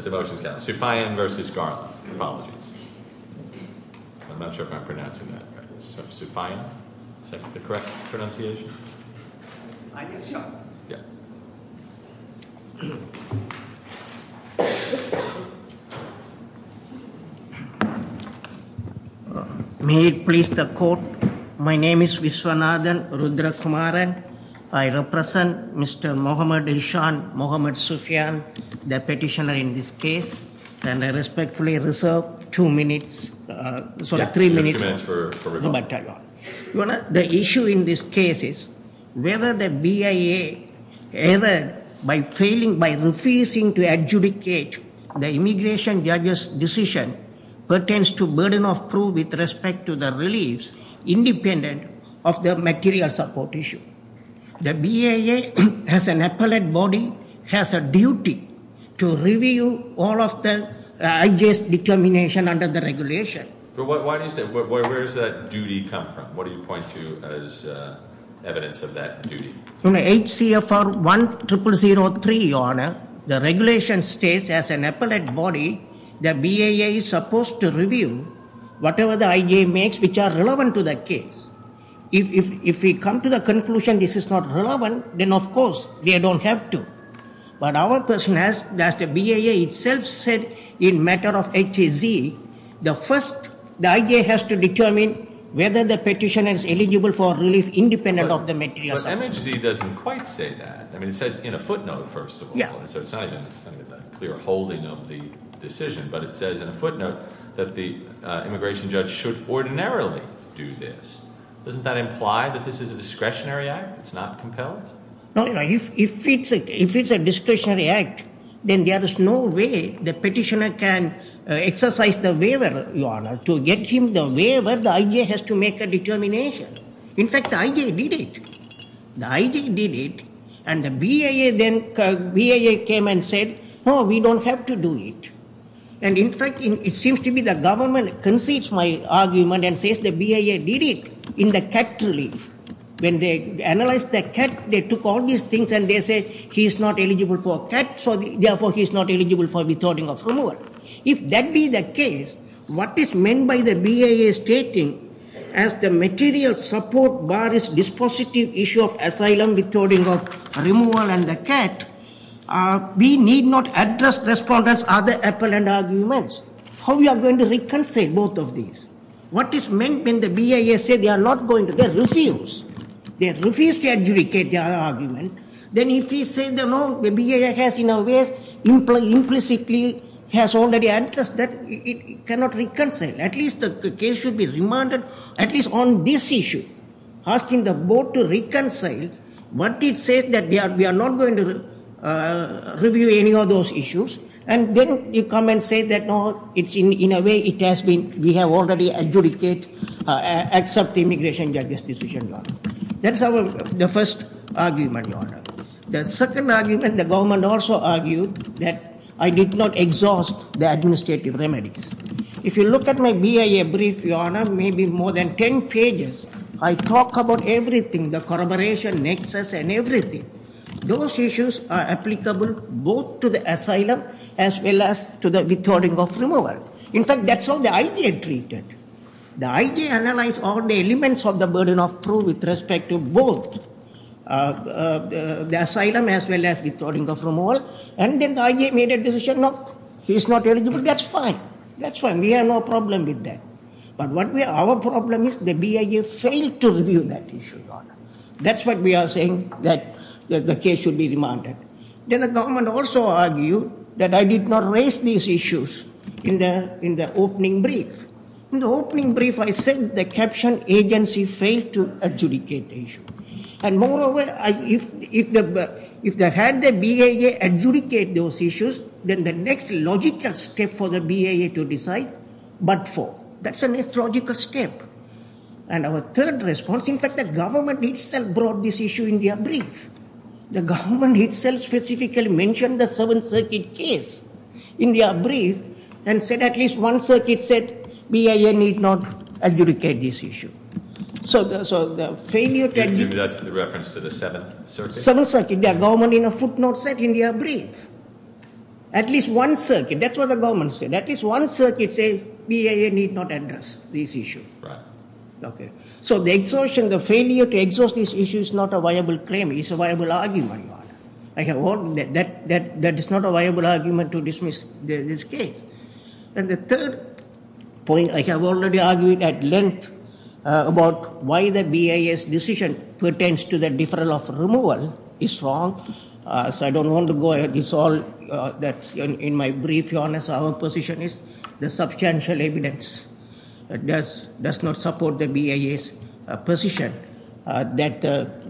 May it please the Court, my name is Vishwanathan Rudrakumaran. I represent Mr. Mohamed Hishan Mohamed Sufiyan the petitioner in this case and I respectfully reserve two minutes sorry three minutes. The issue in this case is whether the BIA error by failing by refusing to adjudicate the immigration judges decision pertains to burden of proof with respect to the reliefs independent of the material support issue. The BIA has an appellate body has a duty to review all of the IJs determination under the regulation. But why do you say where does that duty come from? What do you point to as evidence of that duty? HCFR 1003 your honor the regulation states as an appellate body the BIA is supposed to review whatever the IJ makes which are relevant to that case. If we come to the conclusion this is not relevant then of course they don't have to. But our person has that the BIA itself said in matter of HZ the first the IJ has to determine whether the petition is eligible for relief independent of the material support. But MHZ doesn't quite say that I mean it says in a footnote first of all yeah so it's not a clear holding of the decision but it says in a footnote that the immigration judge should ordinarily do this. Doesn't that imply that this is a discretionary act? It's not compelled? No if it's a discretionary act then there is no way the petitioner can exercise the waiver your honor to get him the waiver the IJ has to make a determination. In fact the IJ did it. The IJ did it and the BIA then came and said no we don't have to do it and in fact it seems to be the government concedes my argument and says the BIA did it in the cat relief. When they analyzed the cat they took all these things and they say he is not eligible for cat so therefore he is not eligible for withdrawing of removal. If that be the case what is meant by the BIA stating as the material support bar is dispositive issue of asylum withholding of removal and the cat. We need not address respondents other appellant arguments. How we are going to reconcile both of these? What is meant when the BIA say they are not going to they refuse they refuse to adjudicate the other argument then if we say the BIA has in a way implicitly has already addressed that it cannot reconcile at least the case should be remanded at least on this issue asking the board to reconcile what it says that they are we are not going to review any of those issues and then you come and say that no it's in in a way it has been we have already adjudicate accept the immigration judges decision. That's our the first argument. The second argument the government also argued that I did not exhaust the administrative remedies. If you look at my BIA brief your honor may be more than 10 pages I talk about everything the corroboration nexus and everything. Those issues are applicable both to the asylum as well as to the withholding of removal. In fact that's how the IJ treated. The IJ analyzed all the elements of the burden of proof with respect to both the asylum as well as withholding of removal and then the IJ made a decision no he is not eligible that's fine that's fine we have no problem with that. But what we our problem is the BIA failed to review that issue. That's what we are saying that the case should be remanded. Then the government also argued that I did not raise these issues in the in the opening brief. In the opening brief I said the caption agency failed to adjudicate the issue and moreover if they had the BIA adjudicate those issues then the next logical step for the BIA to decide but for that's a mythological step. And our third response in fact the government itself brought this issue in their brief. The government itself specifically mentioned the Seventh Circuit case in their brief and said at least one circuit said BIA need not adjudicate this issue. So the failure to... Maybe that's the reference to the Seventh Circuit? Seventh Circuit. The government in a footnote said in their brief. At least one circuit that's what the government said. At least one circuit said BIA need not address this issue. So the exhaustion the failure to exhaust this issue is not a viable claim it's a viable argument. That is not a viable argument to dismiss this case. And the third point I have already argued at length about why the BIA's decision pertains to the deferral of removal is wrong. So I don't want to go ahead it's all that's in my brief. Our position is the substantial evidence does not support the BIA's position that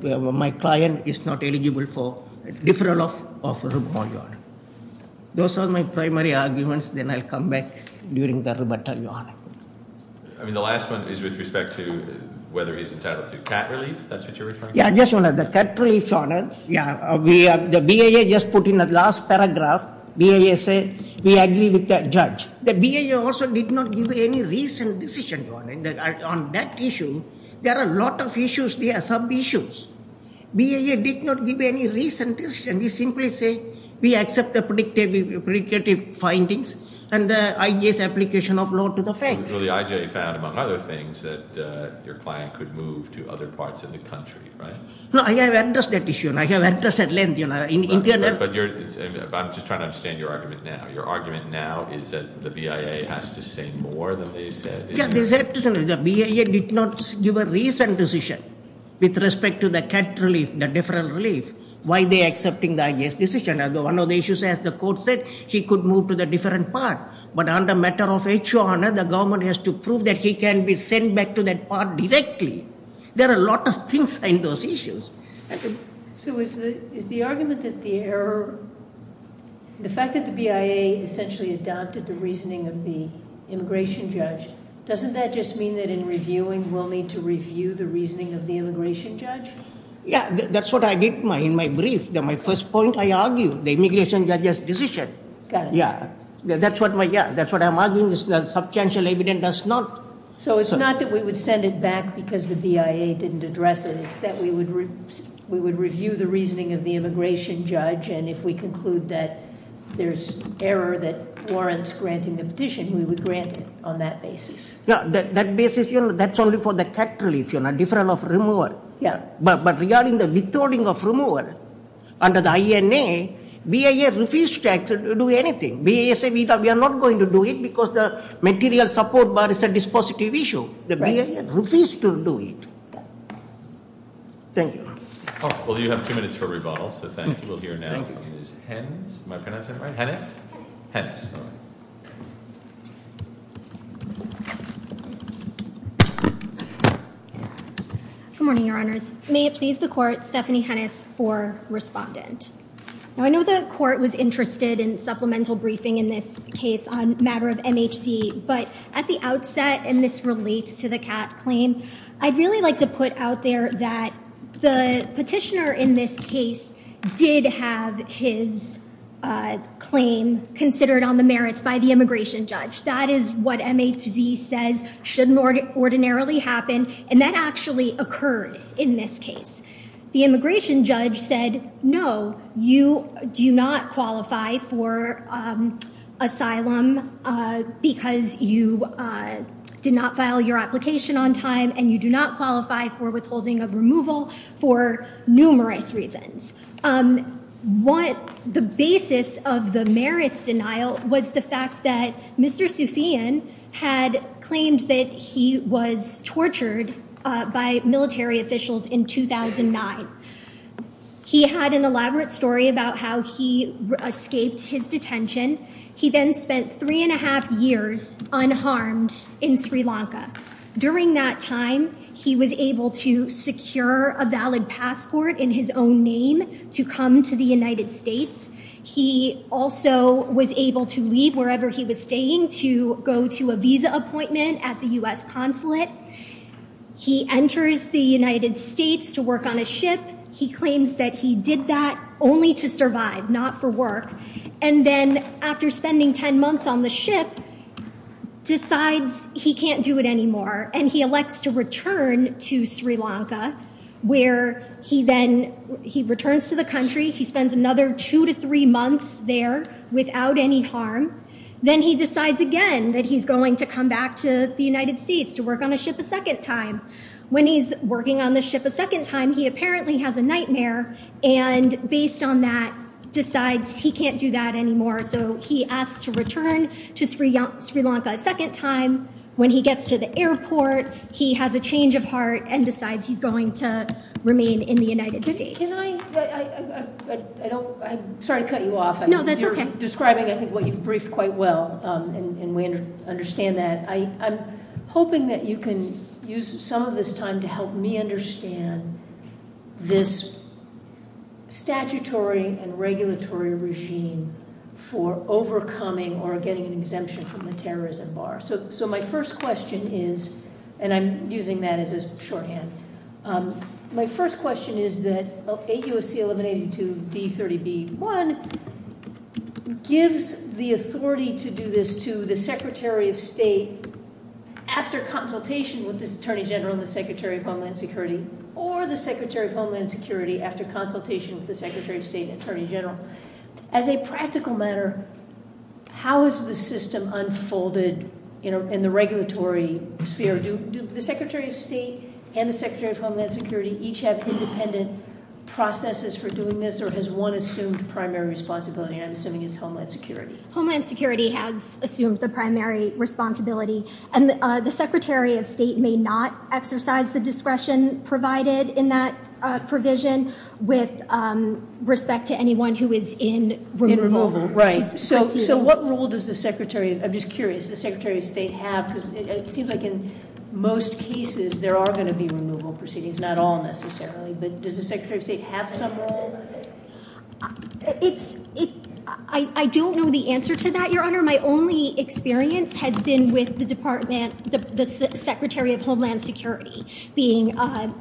my client is not eligible for deferral of removal. Those are my primary arguments then I'll come back during the rebuttal. I mean the last one is with respect to whether he's entitled to cat relief. That's what you're referring to? Yeah just one other cat relief. The BIA just put in a last paragraph BIA say we agree with that judge. The BIA also did not give any recent decision on that issue. There are a lot of issues there, some issues. BIA did not give any recent decision. We simply say we accept the predictive findings and the IJ's application of law to the facts. So the IJ found among other things that your client could move to other parts of the country right? No I have addressed that issue and I have addressed at length you know. I'm just trying to understand your argument now. Your argument now is that the BIA has to say more than they said. Yeah they said the BIA did not give a recent decision with respect to the cat relief, the deferral relief. Why they accepting the IJ's decision? One of the issues as the court said he could move to the different part. But on the matter of HON the government has to prove that he can be sent back to that part directly. There are a lot of things in those issues. So is the argument that the error, the fact that the BIA essentially adopted the reasoning of the immigration judge, doesn't that just mean that in reviewing we'll need to review the reasoning of the immigration judge? Yeah, that's what I did in my brief. My first point I argued the immigration judge's decision. Got it. Yeah, that's what I'm arguing. The substantial evidence does not. So it's not that we would send it back because the BIA didn't address it. It's that we would review the reasoning of the immigration judge and if we conclude that there's error that warrants granting the petition, we would grant it on that basis. That basis, that's only for the cat relief, deferral of removal. But regarding the withholding of removal, under the INA, BIA refused to actually do anything. BIA said we are not going to do it because the material support bar is a dispositive issue. The BIA refused to do it. Thank you. Well, you have two minutes for a rebuttal, so we'll hear now from Ms. Hennes. Am I pronouncing it right? Hennes? Hennes. Good morning, Your Honors. May it please the Court, Stephanie Hennes for respondent. Now, I know the Court was interested in supplemental briefing in this case on a matter of MHC, but at the outset, and this relates to the cat claim, I'd really like to put out there that the petitioner in this case did have his claim considered on the merits by the immigration judge. That is what MHC says shouldn't ordinarily happen, and that actually occurred in this case. The immigration judge said, no, you do not qualify for asylum because you did not file your application on time, and you do not qualify for withholding of removal for numerous reasons. What the basis of the merits denial was the fact that Mr. Soufian had claimed that he was tortured by military officials in 2009. He had an elaborate story about how he escaped his detention. He then spent three and a half years unharmed in Sri Lanka. During that time, he was able to secure a valid passport in his own name to come to the United States. He also was able to leave wherever he was staying to go to a visa appointment at the U.S. consulate. He enters the United States to work on a ship. He claims that he did that only to survive, not for work, and then after spending 10 months on the ship, decides he can't do it anymore, and he elects to return to Sri Lanka, where he then, he returns to the country, he spends another two to three months there without any harm, then he decides again that he's going to come back to the United States to work on a ship a second time. When he's working on the ship a second time, he apparently has a nightmare, and based on that, decides he can't do that anymore, so he asks to return to Sri Lanka a second time. When he gets to the airport, he has a change of heart and decides he's going to remain in the United States. Can I, I don't, I'm sorry to cut you off. No, that's okay. You're describing, I think, what you've briefed quite well, and we understand that. I'm hoping that you can use some of this time to help me understand this statutory and regulatory regime for overcoming or getting an exemption from the terrorism bar. So my first question is, and I'm using that as a shorthand, my first question is that 8 U.S.C. 1182 D30B.1 gives the authority to do this to the Secretary of State after consultation with this Attorney General and the Secretary of Homeland Security or the Secretary of Homeland Security after consultation with the Secretary of State and Attorney General. As a practical matter, how is the system unfolded in the regulatory sphere? Do the Secretary of State and the Secretary of Homeland Security each have independent processes for doing this, or has one assumed primary responsibility, and I'm assuming it's Homeland Security? Homeland Security has assumed the primary responsibility, and the Secretary of State may not exercise the discretion provided in that provision with respect to anyone who is in removal. Right, so what role does the Secretary, I'm just curious, does the Secretary of State have, because it seems like in most cases there are going to be removal proceedings, not all necessarily, but does the Secretary of State have some role? I don't know the answer to that, Your Honor. My only experience has been with the Department, the Secretary of Homeland Security being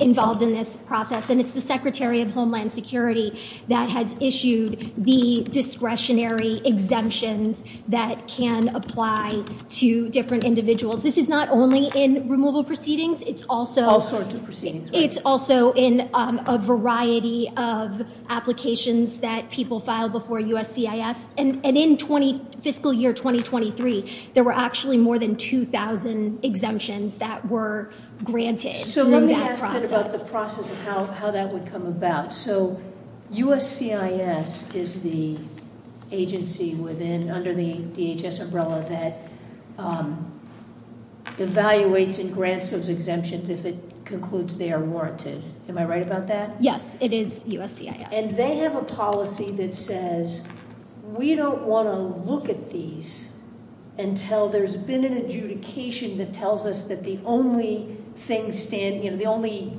involved in this process, and it's the Secretary of Homeland Security that has issued the discretionary exemptions that can apply to different individuals. This is not only in removal proceedings, it's also... All sorts of proceedings, right. It's also in a variety of applications that people file before USCIS, and in fiscal year 2023, there were actually more than 2,000 exemptions that were granted through that process. So let me ask about the process of how that would come about. So USCIS is the agency under the DHS umbrella that evaluates and grants those exemptions if it concludes they are warranted. Am I right about that? Yes, it is USCIS. And they have a policy that says, we don't want to look at these until there's been an adjudication that tells us that the only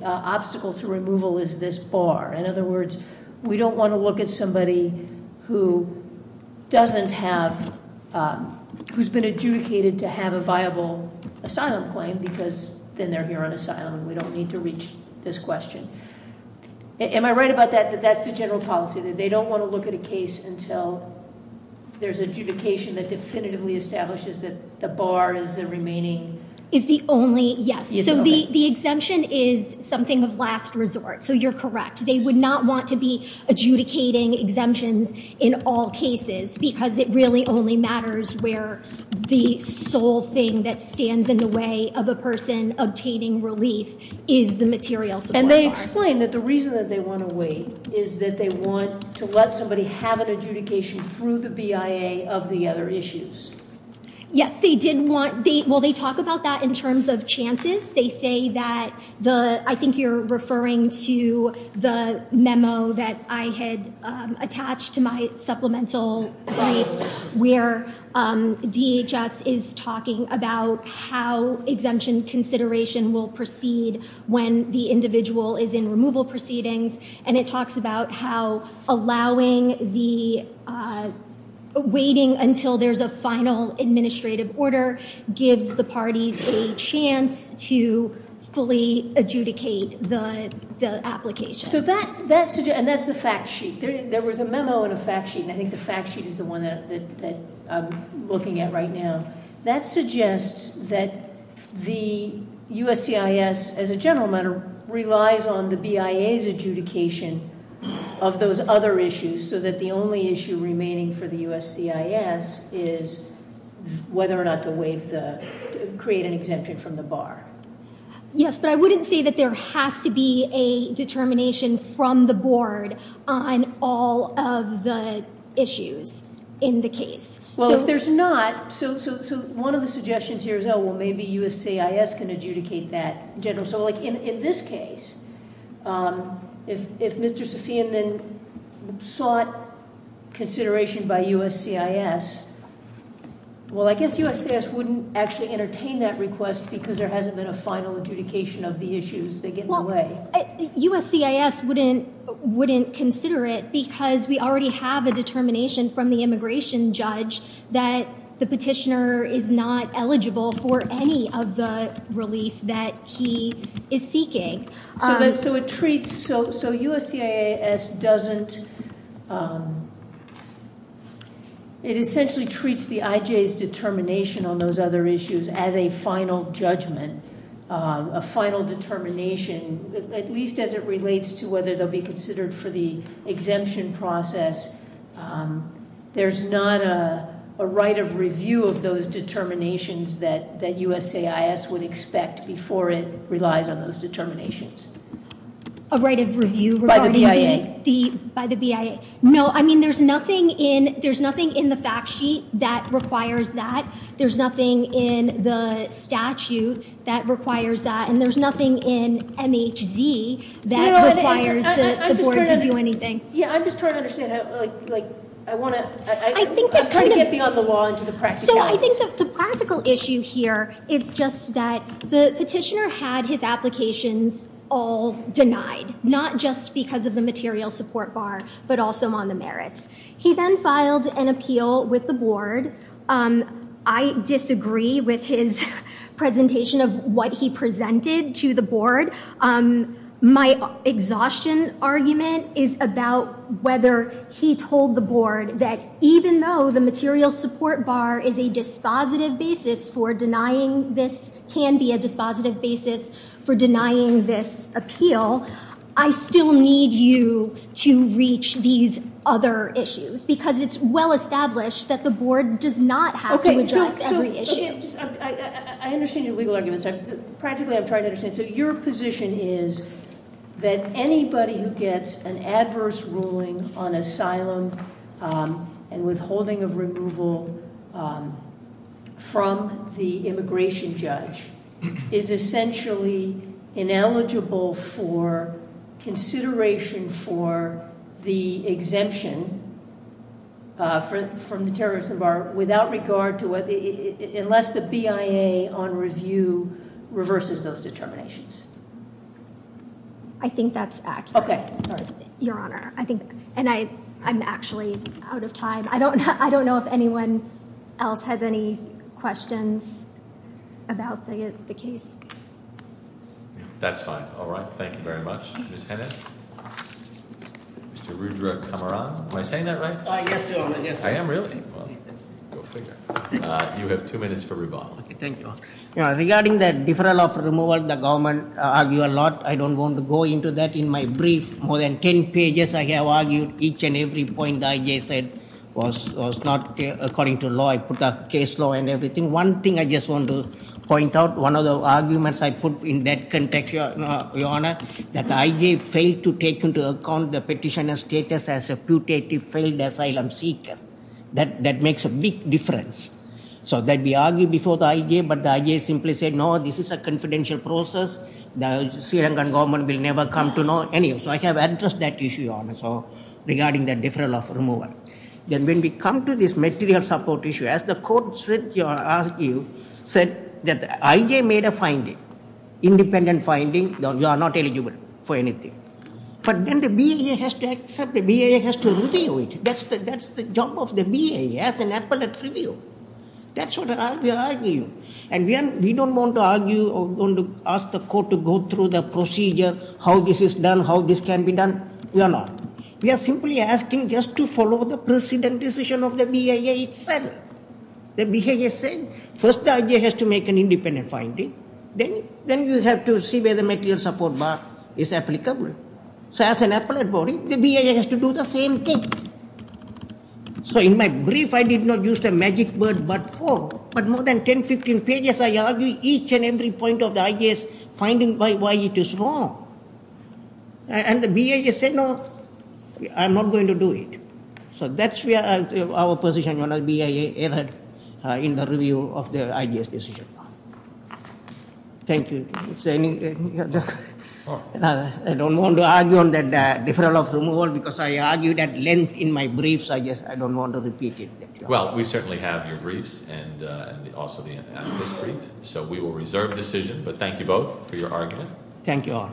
obstacle to removal is this bar. In other words, we don't want to look at somebody who doesn't have... who's been adjudicated to have a viable asylum claim because then they're here on asylum and we don't need to reach this question. Am I right about that, that that's the general policy, that they don't want to look at a case until there's adjudication that definitively establishes that the bar is the remaining... Is the only... Yes. So the exemption is something of last resort. So you're correct. They would not want to be adjudicating exemptions in all cases because it really only matters where the sole thing that stands in the way of a person obtaining relief is the material support bar. And they explain that the reason that they want to wait is that they want to let somebody have an adjudication through the BIA of the other issues. Yes, they did want... Well, they talk about that in terms of chances. They say that the... I think you're referring to the memo that I had attached to my supplemental brief where DHS is talking about how exemption consideration will proceed when the individual is in removal proceedings and it talks about how allowing the... waiting until there's a final administrative order gives the parties a chance to fully adjudicate the application. So that... And that's the fact sheet. There was a memo and a fact sheet and I think the fact sheet is the one that I'm looking at right now. That suggests that the USCIS, as a general matter, relies on the BIA's adjudication of those other issues so that the only issue remaining for the USCIS is whether or not to waive the... create an exemption from the bar. Yes, but I wouldn't say that there has to be a determination from the board on all of the issues in the case. Well, if there's not... So one of the suggestions here is, oh, well, maybe USCIS can adjudicate that generally. So, like, in this case, if Mr. Safian then sought consideration by USCIS, well, I guess USCIS wouldn't actually entertain that request because there hasn't been a final adjudication of the issues. They get in the way. Well, USCIS wouldn't consider it because we already have a determination from the immigration judge that the petitioner is not eligible for any of the relief that he is seeking. So it treats... So USCIS doesn't... It essentially treats the IJ's determination on those other issues as a final judgment, a final determination, at least as it relates to whether they'll be considered for the exemption process. There's not a right of review of those determinations that USCIS would expect before it relies on those determinations. A right of review regarding the... By the BIA. No, I mean, there's nothing in... There's nothing in the fact sheet that requires that. There's nothing in the statute that requires that. And there's nothing in MHZ that requires the board to do anything. Yeah, I'm just trying to understand how... Like, I want to... I think it's kind of... I'm trying to get beyond the law into the practicalities. So I think that the practical issue here is just that the petitioner had his applications all denied, not just because of the material support bar, but also on the merits. He then filed an appeal with the board. I disagree with his presentation of what he presented to the board. My exhaustion argument is about whether he told the board that even though the material support bar is a dispositive basis for denying this... can be a dispositive basis for denying this appeal, I still need you to reach these other issues, because it's well-established that the board does not have to address every issue. I understand your legal arguments. Practically, I'm trying to understand. So your position is that anybody who gets an adverse ruling on asylum and withholding of removal from the immigration judge is essentially ineligible for consideration for the exemption from the terrorism bar without regard to whether... unless the BIA, on review, reverses those determinations. I think that's accurate. Okay. Sorry. Your Honor, I think... And I'm actually out of time. I don't know if anyone else has any questions about the case. That's fine. All right. Thank you very much. Ms. Hennis? Mr. Rudra Kamaran? Am I saying that right? Yes, Your Honor. I am, really? Go figure. You have two minutes for rebuttal. Thank you. Regarding the deferral of removal, the government argue a lot. I don't want to go into that in my brief. More than 10 pages I have argued. Each and every point the I.J. said was not according to law. I put up case law and everything. One thing I just want to point out, one of the arguments I put in that context, Your Honor, that the I.J. failed to take into account the petitioner's status as a putative, failed asylum seeker. That makes a big difference. So that we argue before the I.J., but the I.J. simply said, no, this is a confidential process. The Sri Lankan government will never come to know. So I have addressed that issue, Your Honor, regarding the deferral of removal. Then when we come to this material support issue, as the court said, said that the I.J. made a finding, independent finding, you are not eligible for anything. But then the BIA has to accept, the BIA has to review it. That's the job of the BIA, as an appellate review. That's what we argue. We don't want to ask the court to go through the procedure, how this is done, how this can be done. We are not. We are simply asking just to follow the precedent decision of the BIA itself. The BIA said, first the I.J. has to make an independent finding. Then you have to see whether the material support bar is applicable. So as an appellate body, the BIA has to do the same thing. So in my brief, I did not use the magic word, but for, but more than 10, 15 pages, I argue each and every point of the I.J.'s finding why it is wrong. And the BIA said, no, I'm not going to do it. So that's our position when the BIA erred in the review of the I.J.'s decision. Thank you. I don't want to argue on the deferral of removal, because I argued at length in my brief, so I don't want to repeat it. Well, we certainly have your briefs, and also the appellate's brief. So we will reserve decision, but thank you both for your argument. Thank you all.